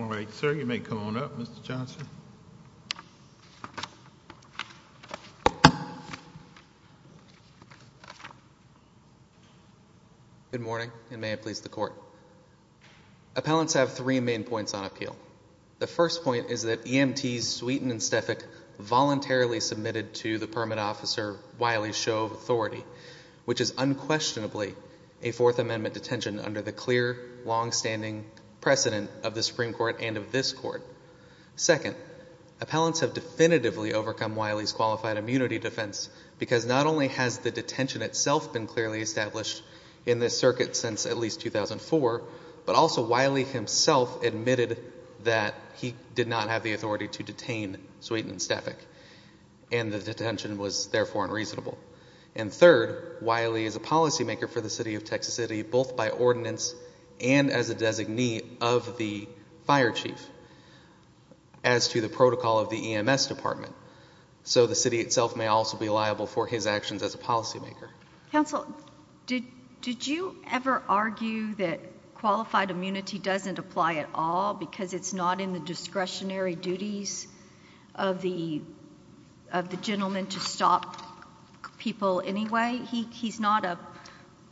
All right, sir, you may come on up, Mr. Johnson. Good morning, and may it please the Court. Appellants have three main points on appeal. The first point is that EMTs Sweeten and Stefak voluntarily submitted to the permit officer Wiley's show of authority, which is unquestionably a Fourth Amendment detention under the clear longstanding precedent of the Supreme Court and of this Court. Second, appellants have definitively overcome Wiley's qualified immunity defense because not only has the detention itself been clearly established in this circuit since at least 2004, but also Wiley himself admitted that he did not have the authority to detain Sweeten and Stefak, and the detention was therefore unreasonable. And third, Wiley is a policymaker for the city of Texas City, both by ordinance and as a designee of the fire chief, as to the protocol of the EMS department. So the city itself may also be liable for his actions as a policymaker. Counsel, did you ever argue that qualified immunity doesn't apply at all because it's not in the discretionary duties of the gentleman to stop people anyway? He's not a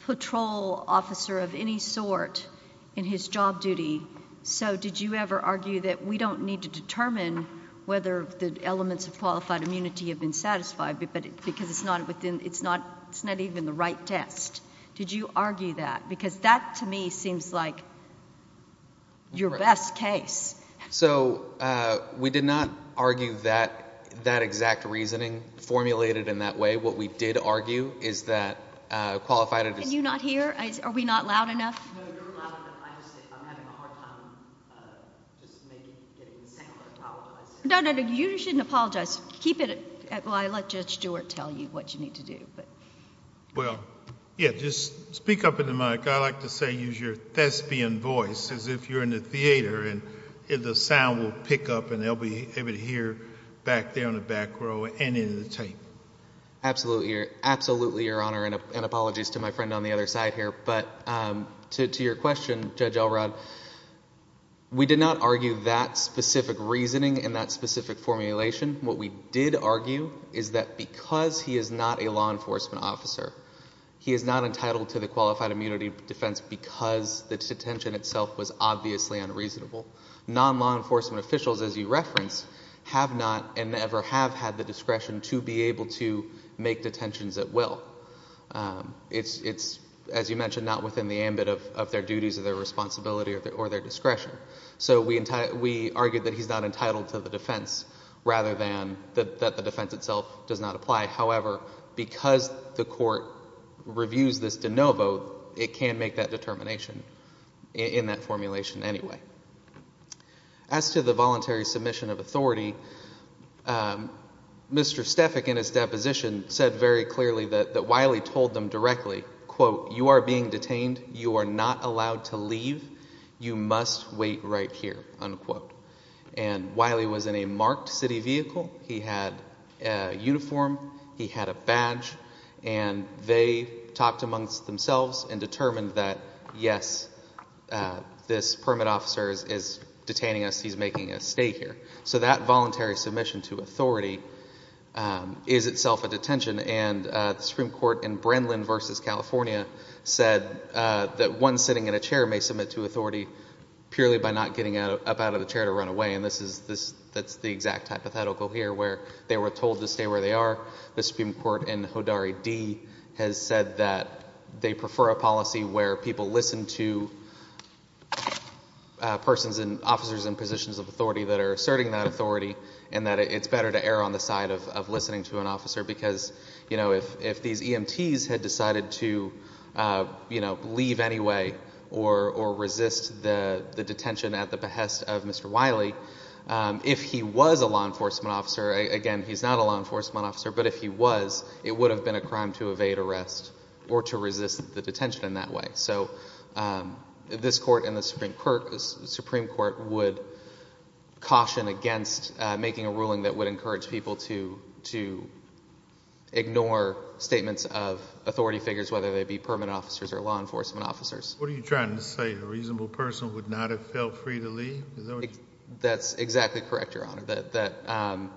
patrol officer of any sort in his job duty. So did you ever argue that we don't need to determine whether the elements of qualified immunity have been satisfied because it's not even the right test? Did you argue that? Because that, to me, seems like your best case. So we did not argue that exact reasoning formulated in that way. What we did argue is that qualified immunity... Can you not hear? Are we not loud enough? No, you're loud enough. I'm just saying I'm having a hard time just maybe getting the same amount of power that I said. No, no, no. You shouldn't apologize. Keep it at... well, I'll let Judge Stewart tell you what you need to do, but... Well, yeah, just speak up into the mic. I like to say use your thespian voice as if you're in the theater and the sound will pick up and they'll be able to hear back there in the back row and in the tape. Absolutely, Your Honor, and apologies to my friend on the other side here. But to your question, Judge Elrod, we did not argue that specific reasoning in that specific formulation. What we did argue is that because he is not a law enforcement officer, he is not entitled to the qualified immunity defense because the detention itself was obviously unreasonable. Non-law enforcement officials, as you referenced, have not and never have had the discretion to be able to make detentions at will. It's, as you mentioned, not within the ambit of their duties or their responsibility or their discretion. So we argued that he's not entitled to the defense rather than that the defense itself does not apply. However, because the court reviews this de novo, it can make that determination in that formulation anyway. As to the voluntary submission of authority, Mr. Stefik in his deposition said very clearly that Wiley told them directly, quote, you are being detained. You are not allowed to leave. You must wait right here, unquote. And Wiley was in a marked city vehicle. He had a uniform. He had a badge. And they talked amongst themselves and determined that, yes, this permit officer is detaining us. He's making us stay here. So that voluntary submission to authority is itself a detention. And the Supreme Court in Brennan v. California said that one sitting in a chair may submit to authority purely by not getting up out of the chair to run away, and that's the exact hypothetical here where they were told to stay where they are. The Supreme Court in Hodari D. has said that they prefer a policy where people listen to persons and officers in positions of authority that are asserting that authority and that it's better to err on the side of listening to an officer because if these EMTs had decided to leave anyway or resist the detention at the behest of Mr. Wiley, if he was a law enforcement officer, again, he's not a law enforcement officer, but if he was, it would have been a crime to evade arrest or to resist the detention in that way. So this court and the Supreme Court would caution against making a ruling that would discourage whether they be permanent officers or law enforcement officers. What are you trying to say, a reasonable person would not have felt free to leave? That's exactly correct, Your Honor, that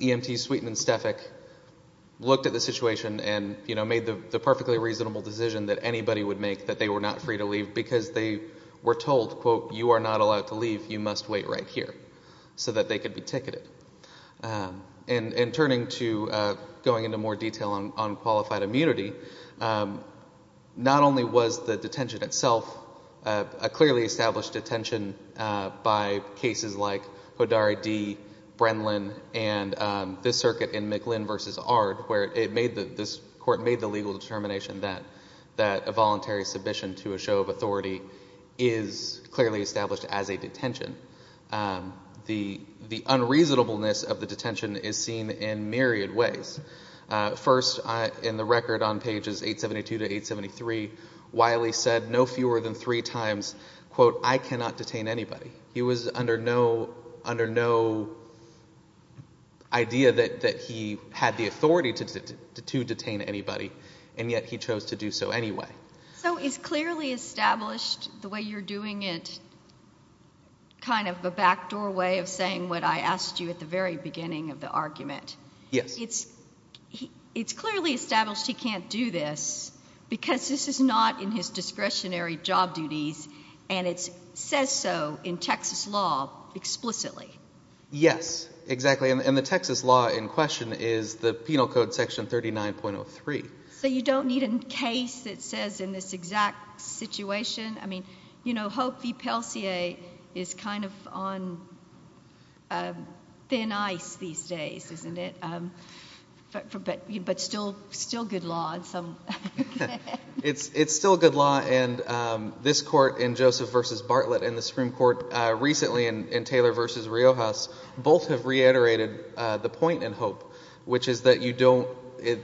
EMT Sweeten and Stefik looked at the situation and made the perfectly reasonable decision that anybody would make that they were not free to leave because they were told, quote, you are not allowed to leave, you must wait right here so that they could be ticketed. In turning to, going into more detail on qualified immunity, not only was the detention itself a clearly established detention by cases like Hodari D., Brenlin, and this circuit in McLinn v. Ard where this court made the legal determination that a voluntary submission to a show of authority is clearly established as a detention, the unreasonableness of the detention is seen in myriad ways. First, in the record on pages 872 to 873, Wiley said no fewer than three times, quote, I cannot detain anybody. He was under no idea that he had the authority to detain anybody, and yet he chose to do so anyway. So it's clearly established the way you're doing it, kind of a backdoor way of saying what I asked you at the very beginning of the argument. Yes. It's clearly established he can't do this because this is not in his discretionary job duties and it says so in Texas law explicitly. Yes, exactly, and the Texas law in question is the Penal Code section 39.03. So you don't need a case that says in this exact situation, I mean, you know, Hope v. Pellissier is kind of on thin ice these days, isn't it? But still good law in some... It's still good law, and this court in Joseph v. Bartlett and the Supreme Court recently in Taylor v. Riojas both have reiterated the point in Hope, which is that you don't,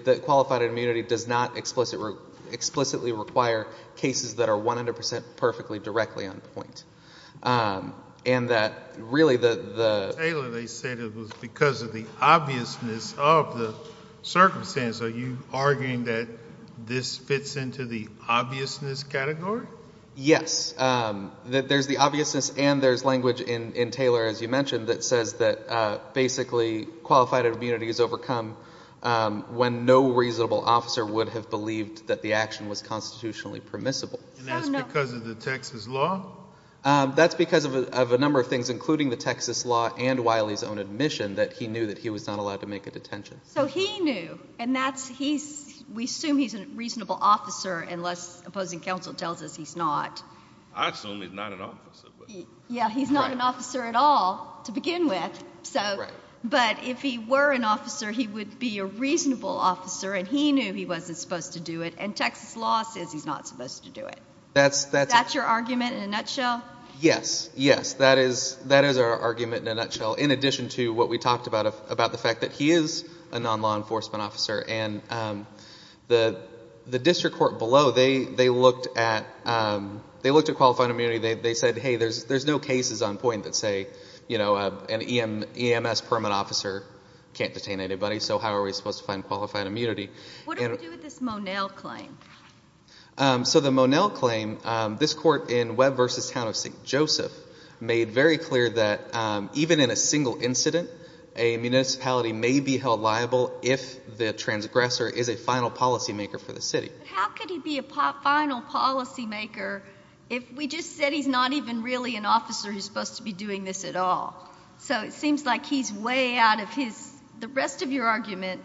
that qualified immunity does not explicitly require cases that are 100% perfectly directly on point. And that really the... In Taylor they said it was because of the obviousness of the circumstance. Are you arguing that this fits into the obviousness category? Yes. There's the obviousness and there's language in Taylor, as you mentioned, that says that basically qualified immunity is overcome when no reasonable officer would have believed that the action was constitutionally permissible. And that's because of the Texas law? That's because of a number of things, including the Texas law and Wiley's own admission that he knew that he was not allowed to make a detention. So he knew, and that's, he's, we assume he's a reasonable officer unless opposing counsel tells us he's not. I assume he's not an officer, but... But if he were an officer, he would be a reasonable officer and he knew he wasn't supposed to do it. And Texas law says he's not supposed to do it. That's, that's... That's your argument in a nutshell? Yes. Yes. That is, that is our argument in a nutshell. In addition to what we talked about, about the fact that he is a non-law enforcement officer and the, the district court below, they, they looked at, they looked at qualified immunity. They said, hey, there's, there's no cases on point that say, you know, an EMS permit officer can't detain anybody, so how are we supposed to find qualified immunity? What do we do with this Monell claim? So the Monell claim, this court in Webb v. Town of St. Joseph made very clear that even in a single incident, a municipality may be held liable if the transgressor is a final policymaker for the city. But how could he be a final policymaker if we just said he's not even really an officer who's supposed to be doing this at all? So it seems like he's way out of his, the rest of your argument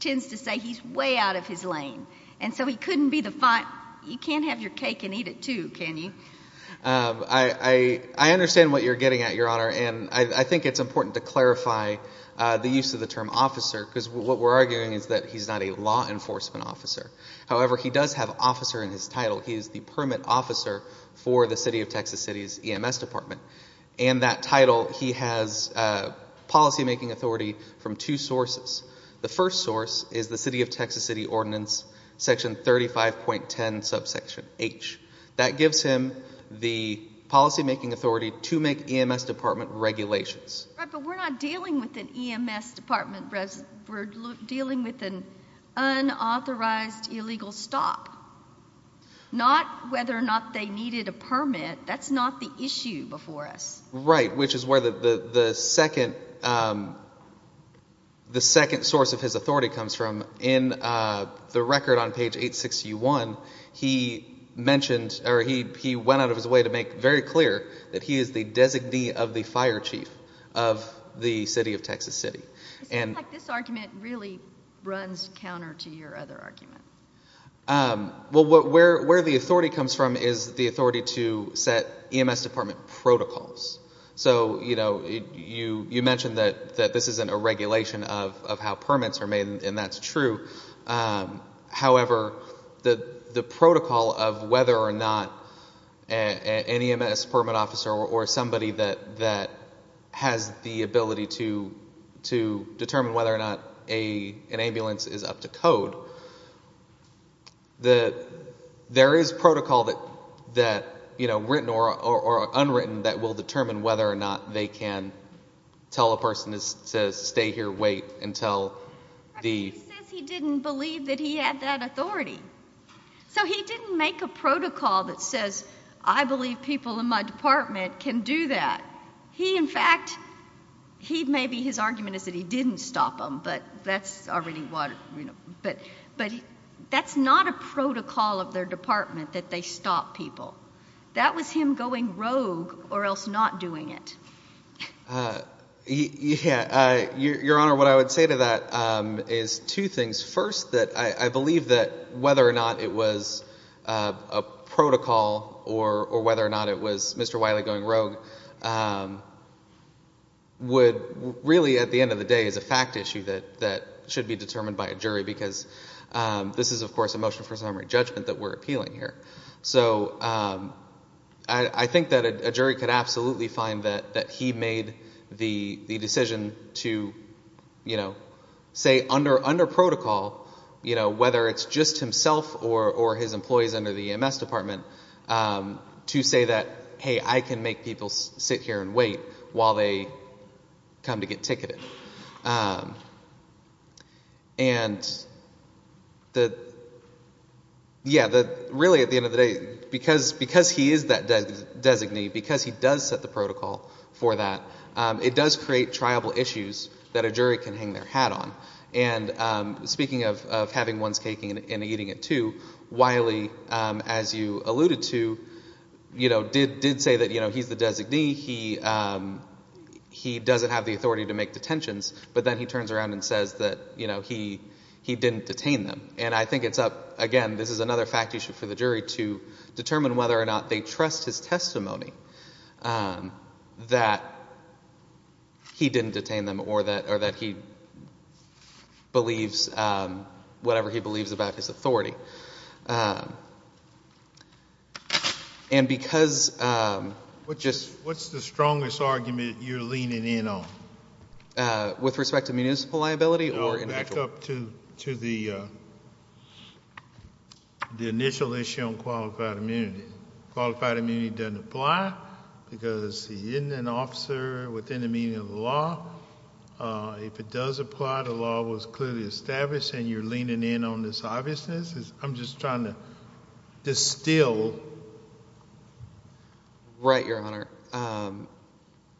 tends to say he's way out of his lane. And so he couldn't be the final, you can't have your cake and eat it too, can you? I, I, I understand what you're getting at, Your Honor, and I, I think it's important to clarify the use of the term officer, because what we're arguing is that he's not a law enforcement officer. However, he does have officer in his title. He is the permit officer for the City of Texas City's EMS Department. And that title, he has policymaking authority from two sources. The first source is the City of Texas City Ordinance, section 35.10 subsection H. That gives him the policymaking authority to make EMS Department regulations. Right, but we're not dealing with an EMS Department, we're dealing with an unauthorized illegal stop. Not whether or not they needed a permit, that's not the issue before us. Right, which is where the, the, the second, the second source of his authority comes from. In the record on page 86U1, he mentioned, or he, he went out of his way to make very clear that he is the designee of the fire chief of the City of Texas City. It seems like this argument really runs counter to your other argument. Well, what, where, where the authority comes from is the authority to set EMS Department protocols. So, you know, you, you, you mentioned that, that this isn't a regulation of, of how permits are made, and that's true. However, the, the protocol of whether or not an EMS Department officer or, or somebody that, that has the ability to, to determine whether or not a, an ambulance is up to code, the, there is protocol that, that, you know, written or, or, or unwritten that will determine whether or not they can tell a person to, to stay here, wait until the. He says he didn't believe that he had that authority. So he didn't make a protocol that says, I believe people in my department can do that. He, in fact, he, maybe his argument is that he didn't stop them, but that's already what, you know, but, but that's not a protocol of their department that they stop people. That was him going rogue or else not doing it. Uh, he, yeah, uh, Your Honor, what I would say to that, um, is two things. First, that I, I believe that whether or not it was, uh, a protocol or, or whether or not it was Mr. Wiley going rogue, um, would really at the end of the day is a fact issue that, that should be determined by a jury because, um, this is of course a motion for summary judgment that we're appealing here. So, um, I, I think that a, a jury could absolutely find that, that he made the, the decision to, you know, say under, under protocol, you know, whether it's just himself or, or his employees under the EMS department, um, to say that, hey, I can make people sit here and wait while they come to get ticketed. Um, and the, yeah, the, really at the end of the day, because, because he is that des, designee, because he does set the protocol for that, um, it does create triable issues that a jury can hang their hat on. And, um, speaking of, of having one's cake and, and eating it too, Wiley, um, as you alluded to, you know, did, did say that, you know, he's the designee, he, um, he doesn't have the authority to make detentions, but then he turns around and says that, you know, he, he didn't detain them. And I think it's up, again, this is another fact issue for the jury, um, that he didn't detain them or that, or that he believes, um, whatever he believes about his authority. Um, and because, um, what just, what's the strongest argument you're leaning in on? Uh, with respect to municipal liability or individual? No, back up to, to the, uh, the initial issue on qualified immunity. Qualified immunity doesn't apply because he isn't an officer within the meaning of the law. Uh, if it does apply, the law was clearly established and you're leaning in on this obviousness. I'm just trying to distill. Right, Your Honor. Um,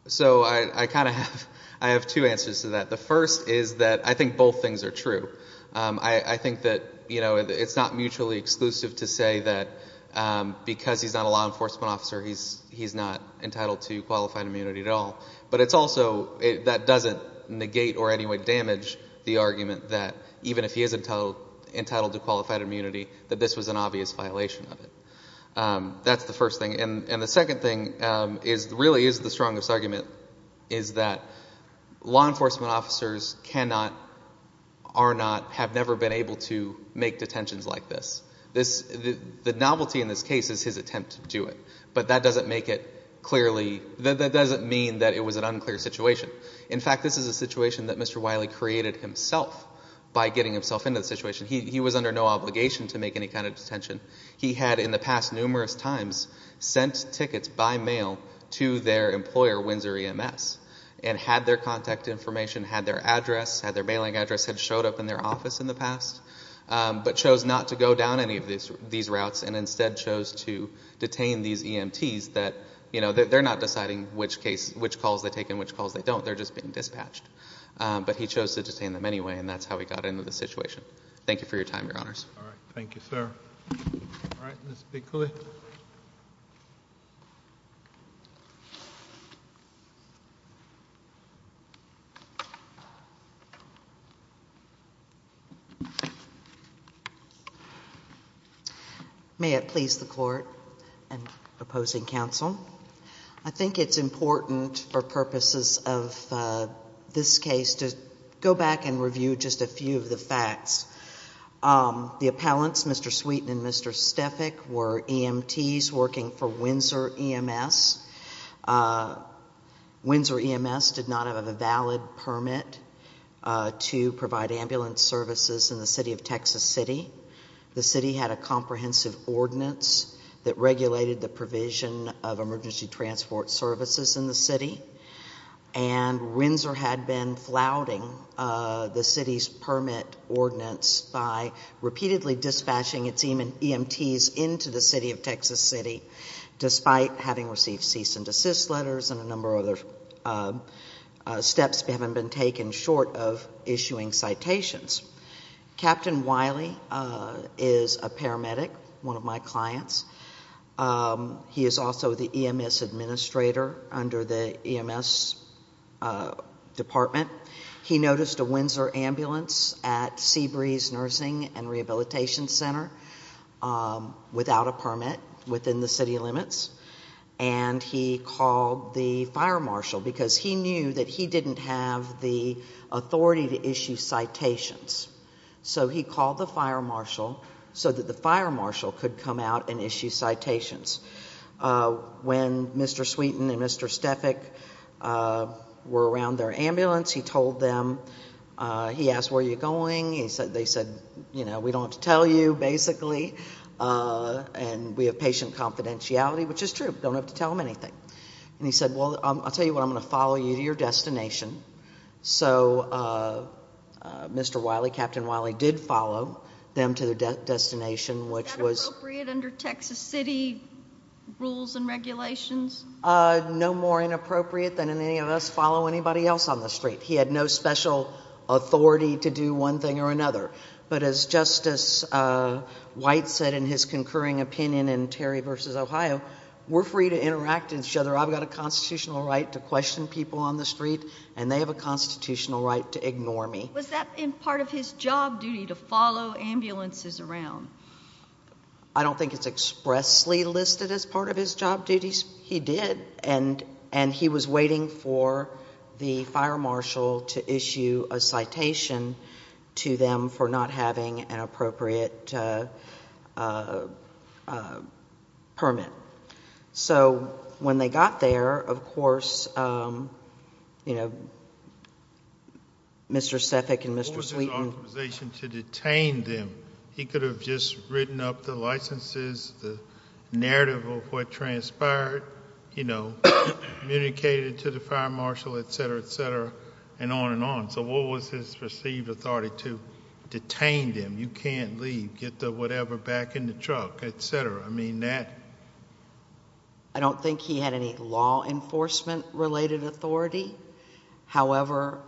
so I, I kind of have, I have two answers to that. The first is that I think both things are true. Um, I, I think that, you know, it's not mutually exclusive to say that, um, because he's not a law enforcement officer, he's, he's not entitled to qualified immunity at all. But it's also, it, that doesn't negate or in any way damage the argument that even if he is entitled, entitled to qualified immunity, that this was an obvious violation of it. Um, that's the first thing. And, and the second thing, um, is, really is the strongest argument is that law enforcement officers cannot, are not, have never been able to make detentions like this. This, the, the novelty in this case is his attempt to do it. But that doesn't make it clearly, that, that doesn't mean that it was an unclear situation. In fact, this is a situation that Mr. Wiley created himself by getting himself into the situation. He, he was under no obligation to make any kind of detention. He had in the past numerous times sent tickets by mail to their employer, Windsor EMS, and had their contact information, had their address, had their mailing address, had showed up in their office in the past. Um, but chose not to go down any of these, these routes and instead chose to detain these EMTs that, you know, they're not deciding which case, which calls they take and which calls they don't. They're just being dispatched. Um, but he chose to detain them anyway and that's how he got into the situation. Thank you for your time, your honors. All right. Thank you, sir. All right, Ms. Bickley. May it please the court. I'm opposing counsel. I think it's important for purposes of, uh, this case to go back and review just a few of the facts. Um, the appellants, Mr. Sweeten and Mr. Stefik were EMTs working for Windsor EMS. Uh, Windsor EMS did not have a valid permit, uh, to provide ambulance services in the city of Texas City. The city had a comprehensive ordinance that regulated the provision of emergency transport services in the city and Windsor had been flouting, uh, the city's permit ordinance by repeatedly dispatching its EMTs into the city of Texas City despite having received cease and desist letters and a number of other, uh, uh, steps that haven't been taken short of issuing citations. Captain Wiley, uh, is a paramedic, one of my clients. Um, he is also the EMS administrator under the EMS, uh, department. He noticed a Windsor ambulance at Seabreeze Nursing and Rehabilitation Center, um, without a permit within the city limits and he called the fire marshal because he knew that he didn't have the authority to issue citations. So he called the fire marshal so that the fire marshal could come out and issue citations. Uh, when Mr. Sweeten and Mr. Stefik, uh, were around their ambulance, he told them, uh, he asked where you're going. They said, you know, we don't have to tell you basically, uh, and we have patient confidentiality, which is true. Don't have to tell them anything. And he said, well, I'll tell you what, I'm going to follow you to your destination. So, uh, Mr. Wiley, Captain Wiley did follow them to their destination, which was... Uh, no more inappropriate than any of us follow anybody else on the street. He had no special authority to do one thing or another. But as Justice, uh, White said in his concurring opinion in Terry versus Ohio, we're free to interact with each other. I've got a constitutional right to question people on the street and they have a constitutional right to ignore me. Was that in part of his job duty to follow ambulances around? Um, I don't think it's expressly listed as part of his job duties. He did. And, and he was waiting for the fire marshal to issue a citation to them for not having an appropriate uh, uh, uh, permit. So when they got there, of course, um, you know, Mr. Stefik and Mr. Wiley could have just written up the licenses, the narrative of what transpired, you know, communicated to the fire marshal, et cetera, et cetera, and on and on. So what was his perceived authority to detain them? You can't leave, get the whatever back in the truck, et cetera. I mean that... I don't think he had any law enforcement related authority. However,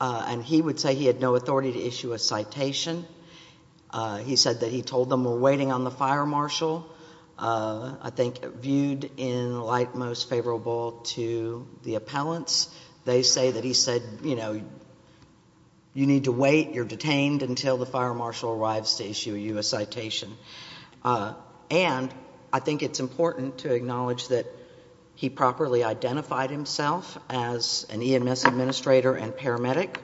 uh, and he would say he had no authority to issue a citation. Uh, he said that he told them we're waiting on the fire marshal. Uh, I think viewed in like most favorable to the appellants, they say that he said, you know, you need to wait, you're detained until the fire marshal arrives to issue you a citation. Uh, and I think it's important to acknowledge that he properly identified himself as an EMS administrator and paramedic.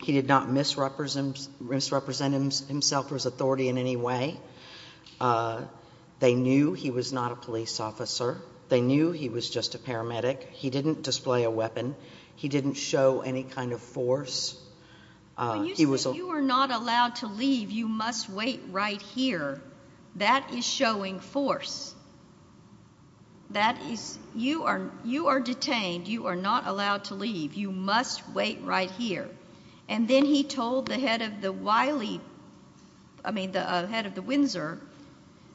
He did not misrepresent himself for his authority in any way. Uh, they knew he was not a police officer. They knew he was just a paramedic. He didn't display a weapon. He didn't show any kind of force. Uh, he was... But you said you were not allowed to leave. You must wait right here. That is showing force. That is... You are, you are detained. You are not allowed to leave. You must wait right here. And then he told the head of the Wiley, I mean the head of the Windsor,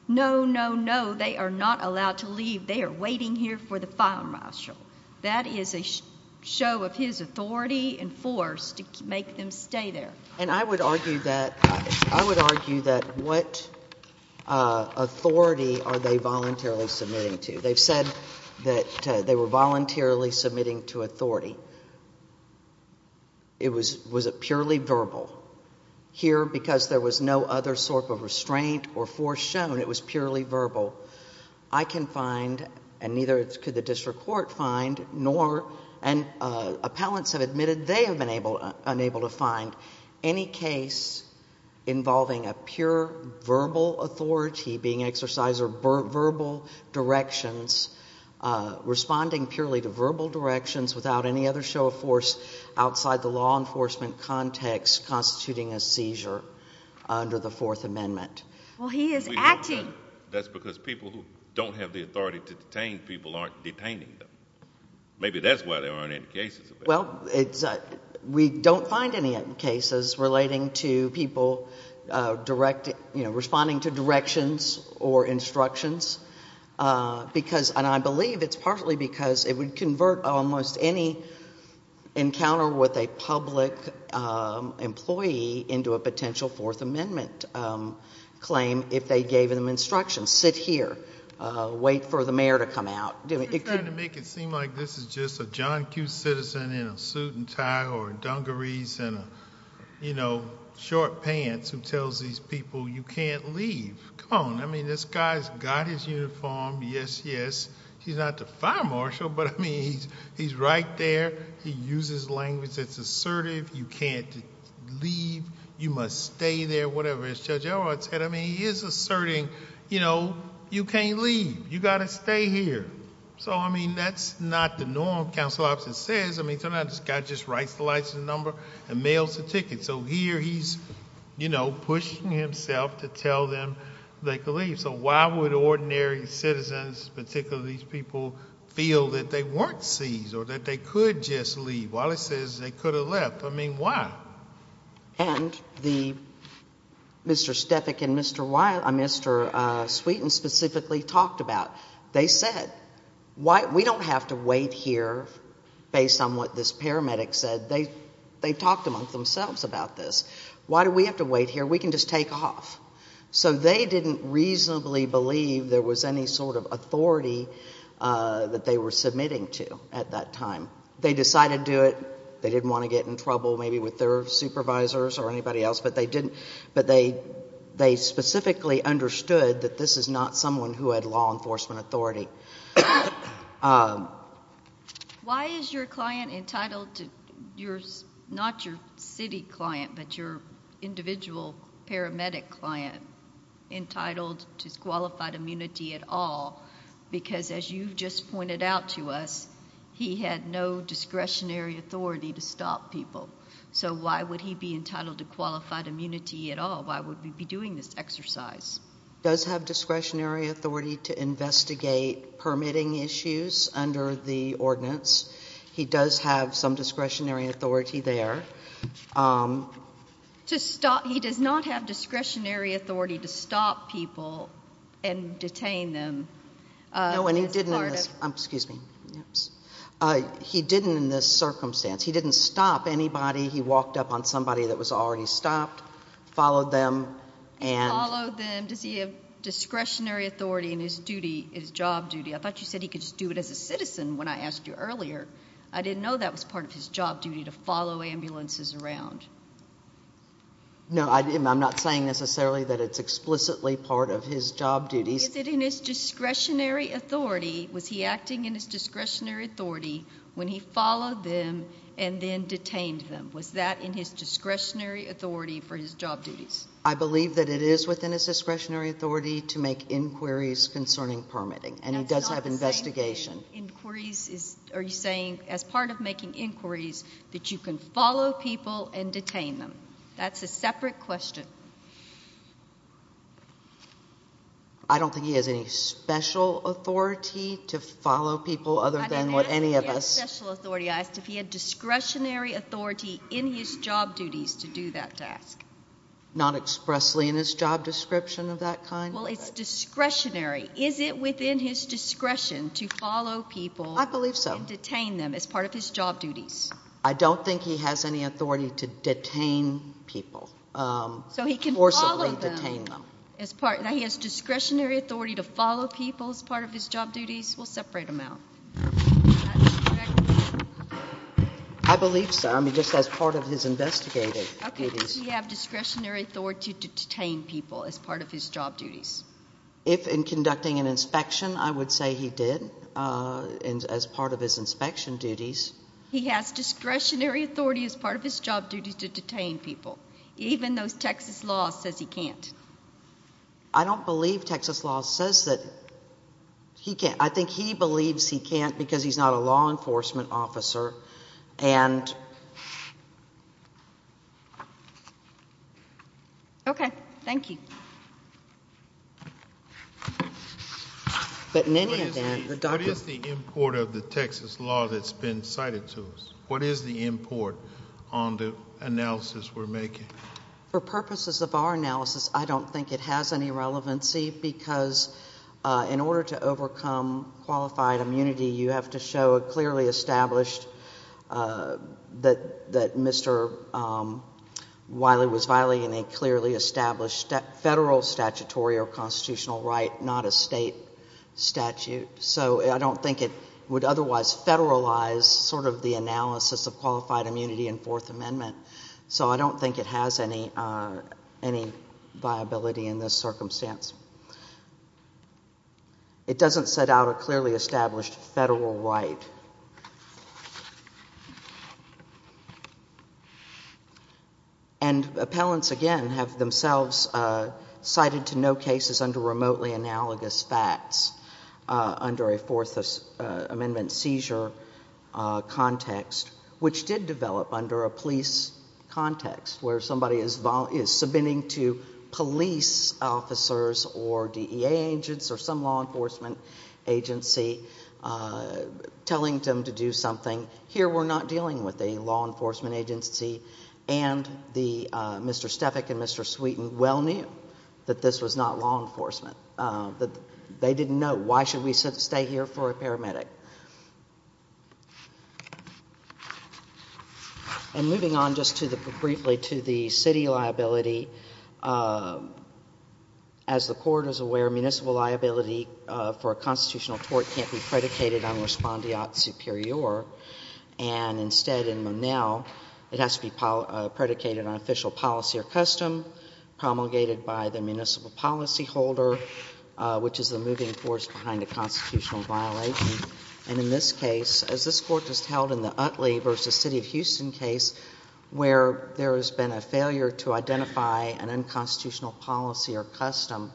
no, no, no, they are not allowed to leave. They are waiting here for the fire marshal. That is a show of his authority and force to make them stay there. And I would argue that, I would argue that what, uh, authority are they voluntarily submitting to? They've said that they were voluntarily submitting to authority. It was, was it purely verbal? Here, because there was no other sort of restraint or force shown, it was purely verbal. I can find, and neither could the district court find, nor, and uh, appellants have admitted they have been able, unable to find any case involving a pure verbal authority being exercised or verbal directions, uh, responding purely to verbal directions without any other show of force outside the law enforcement context constituting a seizure under the Fourth Amendment. Well he is acting... That's because people who don't have the authority to detain people aren't detaining them. Maybe that's why there aren't any cases of that. Well, it's, uh, we don't find any cases relating to people, uh, direct, you know, responding to directions or instructions, uh, because, and I believe it's partly because it would convert almost any encounter with a public, um, employee into a potential Fourth Amendment um, claim if they gave them instructions. Sit here. Uh, wait for the mayor to come out. I'm just trying to make it seem like this is just a John Q. Citizen in a suit and tie or dungarees and a, you know, short pants who tells these people you can't leave. Come on. I mean, this guy's got his uniform. Yes, yes. He's not the fire marshal, but I mean, he's right there. He uses language that's assertive. You can't leave. You must stay there, whatever as Judge Elrod said. I mean, he is asserting, you know, you can't leave. You got to stay here. So, I mean, that's not the norm, Council Officer says. I mean, sometimes this guy just writes the license number and mails the ticket. So here he's, you know, pushing himself to tell them they could leave. So why would ordinary citizens, particularly these people, feel that they weren't seized or that they could just leave while it says they could have left? I mean, why? And the Mr. Stefik and Mr. Wiley, uh, Mr. Sweeten specifically talked about. They said, why, we don't have to wait here based on what this paramedic said. They, they talked among themselves about this. Why do we have to wait here? We can just take off. So they didn't reasonably believe there was any sort of authority, uh, that they were submitting to at that time. They decided to do it. They didn't want to get in trouble maybe with their supervisors or anybody else, but they didn't, but they, they specifically understood that this is not someone who had law enforcement authority. Why is your client entitled to your, not your city client, but your individual paramedic client, entitled to qualified immunity at all? Because as you just pointed out to us, he had no discretionary authority to stop people. So why would he be entitled to qualified immunity at all? Why would we be doing this exercise? Does have discretionary authority to investigate permitting issues under the ordinance. He does have some discretionary authority there. Um. To stop, he does not have discretionary authority to stop people and detain them, uh, as part of. No, and he didn't, excuse me. He didn't in this circumstance. He didn't stop anybody. He walked up on somebody that was already stopped, followed them and. He followed them. Does he have discretionary authority in his duty, his job duty? I thought you said he could just do it as a citizen when I asked you earlier. I didn't know that was part of his job duty to follow ambulances around. No, I didn't. I'm not saying necessarily that it's explicitly part of his job duties. Is it in his discretionary authority? Was he acting in his discretionary authority when he followed them and then detained them? Was that in his discretionary authority for his job duties? I believe that it is within his discretionary authority to make inquiries concerning permitting and he does have investigation. Inquiries is, are you saying as part of making inquiries that you can follow people and detain them? That's a separate question. I don't think he has any special authority to follow people other than what any of us... He has special authority. I asked if he had discretionary authority in his job duties to do that task. Not expressly in his job description of that kind? Well, it's discretionary. Is it within his discretion to follow people... I believe so.... and detain them as part of his job duties? I don't think he has any authority to detain people, forcibly detain them. So he can follow them. Now he has discretionary authority to follow people as part of his job duties. We'll separate them out. I believe so. I mean, just as part of his investigative duties. Okay. Does he have discretionary authority to detain people as part of his job duties? If in conducting an inspection, I would say he did as part of his inspection duties. He has discretionary authority as part of his job duties to detain people, even though Texas law says he can't. I don't believe Texas law says that he can't. I think he believes he can't because he's not a law enforcement officer and... Okay. Thank you.... but in any event, the doctor... What is the import of the Texas law that's been cited to us? What is the import on the analysis we're making? For purposes of our analysis, I don't think it has any relevancy because in order to overcome qualified immunity, you have to show a clearly established that Mr. Wiley was violating a clearly established federal statutory or constitutional right, not a state statute. So I don't think it would otherwise federalize sort of the analysis of qualified immunity in Fourth Amendment. So I don't think it has any viability in this circumstance. It doesn't set out a clearly established federal right. And appellants, again, have themselves cited to no cases under remotely analogous facts under a Fourth Amendment seizure context, which did develop under a police context where somebody is submitting to police officers or DEA agents or some law enforcement agency telling them to do something. Here, we're not dealing with a law enforcement agency. And Mr. Stefik and Mr. Sweeten well knew that this was not law enforcement, that they didn't know, why should we stay here for a paramedic? And moving on just briefly to the city liability, as the Court is aware, municipal liability for a constitutional tort can't be predicated on respondeat superior. And instead, in Monell, it has to be predicated on official policy or custom promulgated by the municipal policy holder, which is the moving force behind a constitutional violation. And in this case, as this Court just held in the Utley v. City of Houston case, where there has been a failure to identify an unconstitutional policy or custom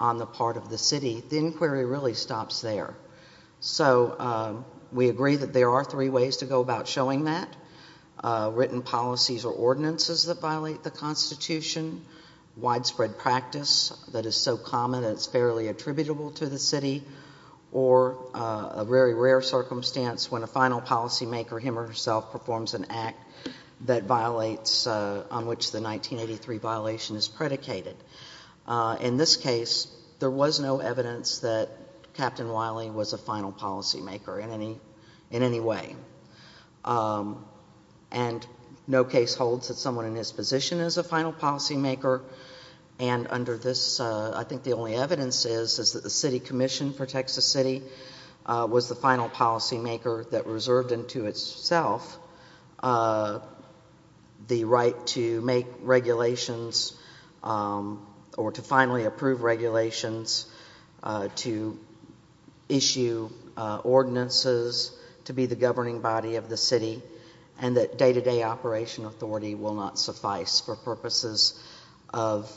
on the part of the city, the inquiry really stops there. So we agree that there are three ways to go about showing that. Written policies or ordinances that violate the Constitution, widespread practice that is so common that it's fairly attributable to the city, or a very rare circumstance when a final policymaker, him or herself, performs an act that violates, on which the 1983 violation is predicated. In this case, there was no evidence that Captain Wiley was a final policymaker in any way. And no case holds that someone in his position is a final policymaker. And under this, I think the only evidence is that the City Commission for Texas City was the final policymaker that reserved into itself the right to make regulations or to finally approve regulations, to issue ordinances, to be the governing body of the city, and that day-to-day operation authority will not suffice for purposes of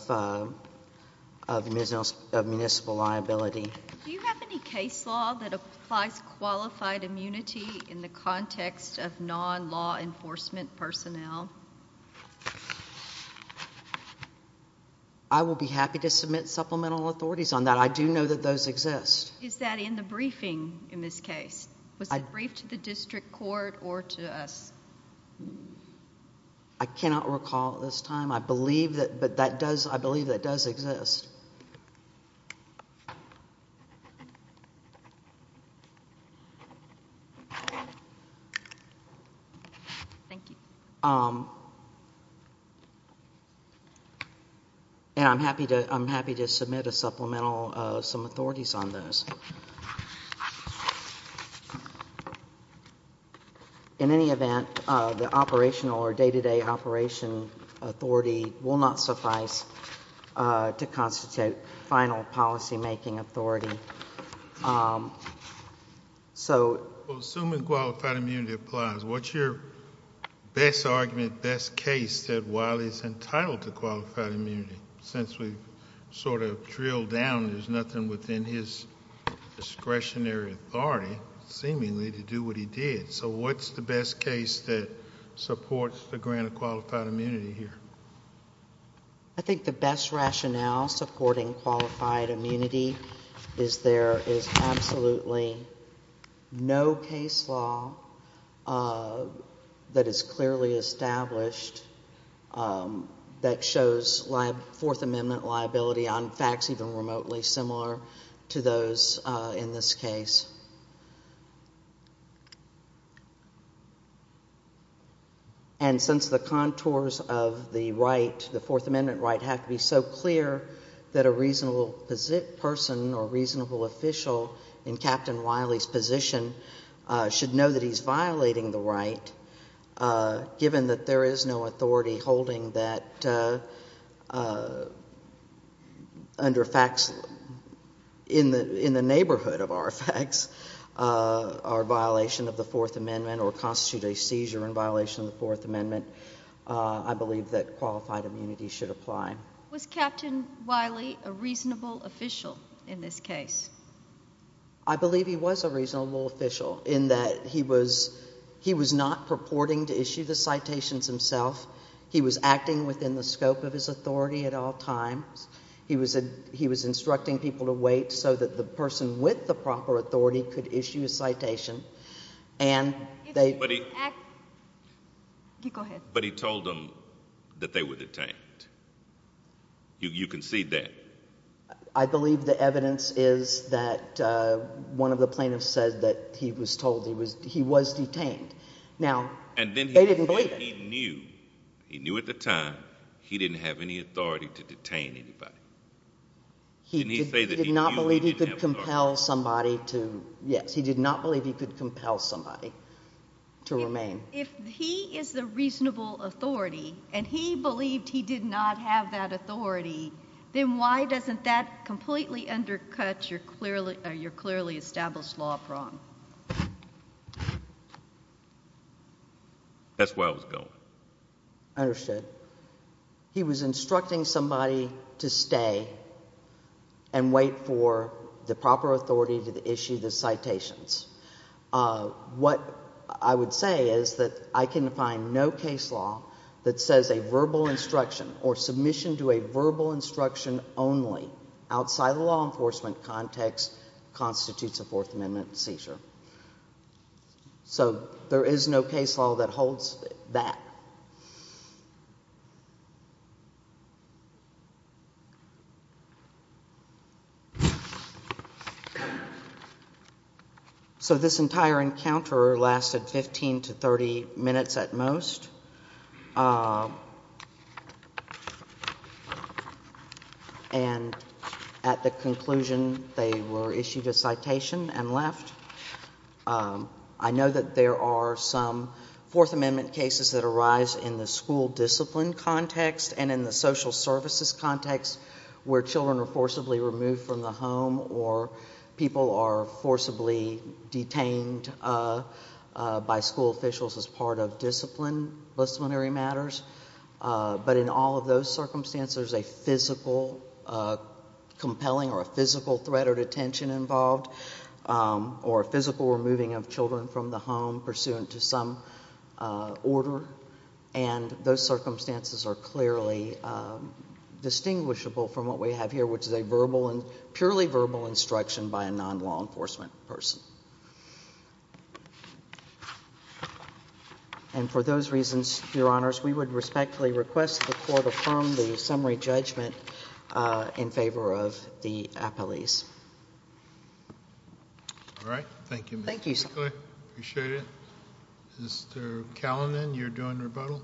municipal liability. Do you have any case law that applies qualified immunity in the context of non-law enforcement personnel? I will be happy to submit supplemental authorities on that. I do know that those exist. Is that in the briefing in this case? Was it briefed to the district court or to us? I cannot recall at this time. I believe that does exist. Thank you. And I'm happy to submit a supplemental, some authorities on those. In any event, the operational or day-to-day operation authority will not suffice to constitute final policymaking authority. So assuming qualified immunity applies, what's your best argument, best case that Wiley is entitled to qualified immunity? Since we've sort of drilled down, there's nothing within his discretionary authority, seemingly, to do what he did. So what's the best case that supports the grant of qualified immunity here? I think the best rationale supporting qualified immunity is there is absolutely no case law that is clearly established that shows Fourth Amendment liability on facts even remotely similar to those in this case. And since the contours of the right, the Fourth Amendment right, have to be so clear that a reasonable person or reasonable official in Captain Wiley's position should know that he's violating the right, given that there is no authority holding that under facts in the neighborhood of our facts are a violation of the Fourth Amendment or constitute a seizure in violation of the Fourth Amendment, I believe that qualified immunity should apply. Was Captain Wiley a reasonable official in this case? I believe he was a reasonable official in that he was not purporting to issue the citations himself. He was acting within the scope of his authority at all times. He was instructing people to wait so that the person with the proper authority could issue a citation. But he told them that they were detained. You can see that. I believe the evidence is that one of the plaintiffs said that he was told he was detained. And then he said he knew. He knew at the time he didn't have any authority to detain anybody. Didn't he say that he knew he didn't have authority? He did not believe he could compel somebody to, yes, he did not believe he could compel somebody to remain. If he is the reasonable authority and he believed he did not have that authority, then why doesn't that completely undercut your clearly established law of wrong? That's where I was going. Understood. He was instructing somebody to stay and wait for the proper authority to issue the citations. What I would say is that I can find no case law that says a verbal instruction or submission to a verbal instruction only outside the law enforcement context constitutes a Fourth Amendment seizure. So, there is no case law that holds that. So this entire encounter lasted 15 to 30 minutes at most. And at the conclusion, they were issued a citation and left. I know that there are some Fourth Amendment cases that arise in the school discipline context and in the social services context where children are forcibly removed from the home or people are forcibly detained by school officials as part of discipline. But in all of those circumstances, there is a physical compelling or a physical threat of detention involved or a physical removing of children from the home pursuant to some order. And those circumstances are clearly distinguishable from what we have here, which is a purely verbal instruction by a non-law enforcement person. And for those reasons, Your Honors, we would respectfully request the Court affirm the summary judgment in favor of the appellees. All right. Thank you. Thank you, sir. I appreciate it. Mr. Kallinen, you're doing rebuttal.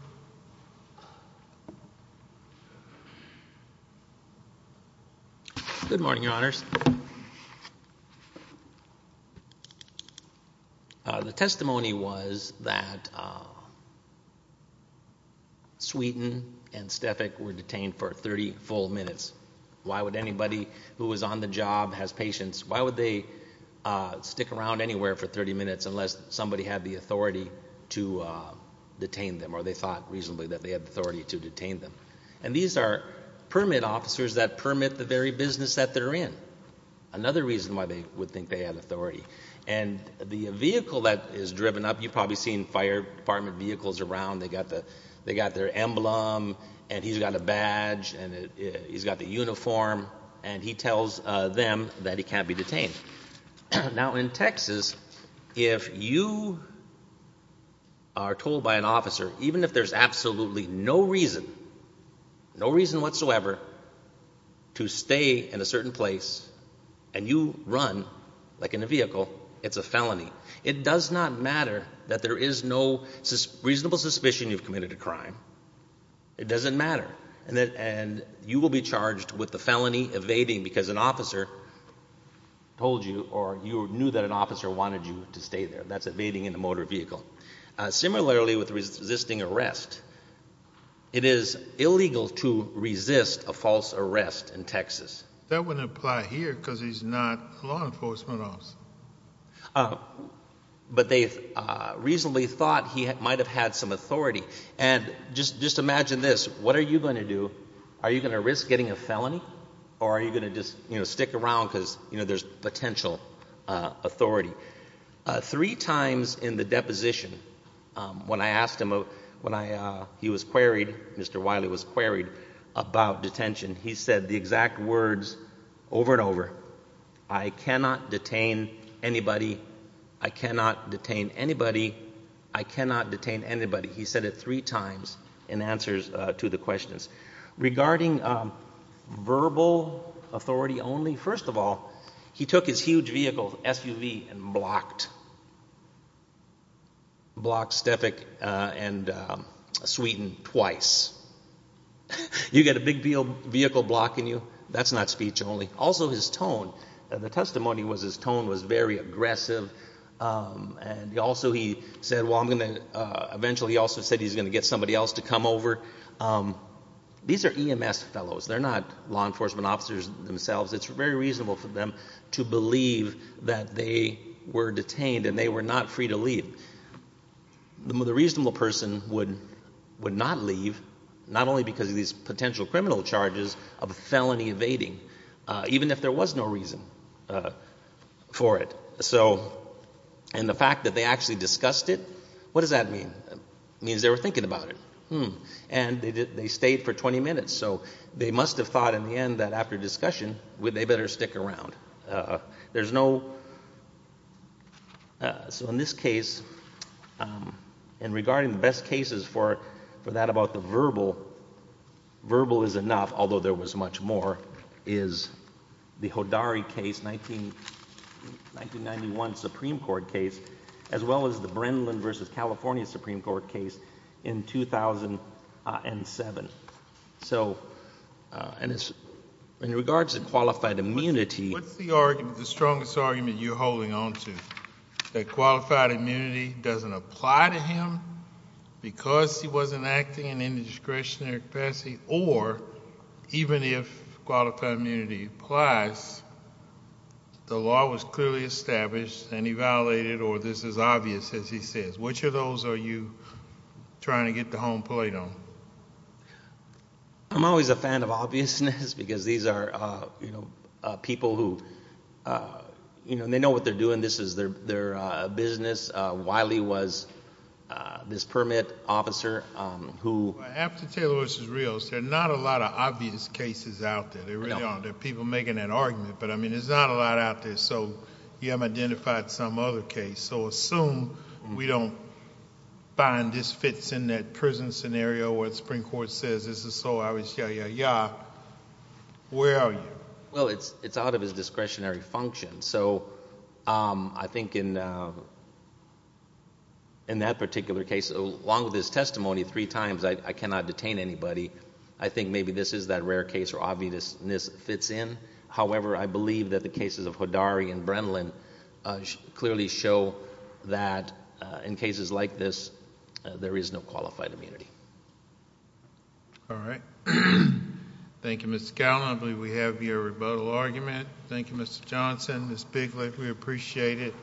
Good morning, Your Honors. The testimony was that Sweetin and Stefik were detained for 30 full minutes. Why would anybody who was on the job, has patience, why would they stick around anywhere for 30 minutes unless somebody had the authority to detain them or they thought reasonably that they had the authority to detain them? And these are permit officers that permit the very business that they're in. Another reason why they would think they had authority. And the vehicle that is driven up, you've probably seen fire department vehicles around. They got their emblem and he's got a badge and he's got the uniform and he tells them that he can't be detained. Now in Texas, if you are told by an officer, even if there's absolutely no reason, no reason whatsoever to stay in a certain place and you run, like in a vehicle, it's a felony. It does not matter that there is no reasonable suspicion you've committed a crime. It doesn't matter. And you will be charged with the felony evading because an officer told you or you knew that an officer wanted you to stay there. That's evading in a motor vehicle. Similarly with resisting arrest, it is illegal to resist a false arrest in Texas. That wouldn't apply here because he's not a law enforcement officer. But they reasonably thought he might have had some authority. And just imagine this, what are you going to do? Are you going to risk getting a felony or are you going to just, you know, stick around because, you know, there's potential authority? Three times in the deposition, when I asked him, when he was queried, Mr. Wiley was queried about detention, he said the exact words over and over, I cannot detain anybody. I cannot detain anybody. I cannot detain anybody. He said it three times in answers to the questions. Regarding verbal authority only, first of all, he took his huge vehicle, SUV, and blocked Stefik and Sweden twice. You get a big vehicle blocking you, that's not speech only. Also his tone, the testimony was his tone was very aggressive and also he said, eventually he's going to get somebody else to come over. These are EMS fellows, they're not law enforcement officers themselves. It's very reasonable for them to believe that they were detained and they were not free to leave. The reasonable person would not leave, not only because of these potential criminal charges of felony evading, even if there was no reason for it. So, and the fact that they actually discussed it, what does that mean? Means they were thinking about it, and they stayed for 20 minutes, so they must have thought in the end that after discussion, they better stick around. There's no, so in this case, and regarding the best cases for that about the verbal, verbal is enough, although there was much more, is the Hodari case, 1991 Supreme Court case, as well as the Brennan versus California Supreme Court case in 2007. So in regards to qualified immunity- What's the argument, the strongest argument you're holding on to, that qualified immunity doesn't apply to him because he wasn't acting in any discretionary capacity, or even if qualified immunity applies, the law was clearly established and he violated, or this is obvious as he says. Which of those are you trying to get the home plate on? I'm always a fan of obviousness, because these are people who, they know what they're doing, this is their business, Wiley was this permit officer who- After Taylor v. Rios, there are not a lot of obvious cases out there, there are people making that argument, but there's not a lot out there, so you haven't identified some other case, so assume we don't find this fits in that prison scenario, what the Supreme Court says, this is so obvious, ya, ya, ya, where are you? Well it's out of his discretionary function, so I think in that particular case, along with his testimony three times, I cannot detain anybody, I think maybe this is that rare case where obviousness fits in, however I believe that the cases of Hodari and Brenlin clearly show that in cases like this, there is no qualified immunity. Alright, thank you Mr. Gallin, I believe we have your rebuttal argument, thank you Mr. Johnson, Ms. Bigley, we appreciate it.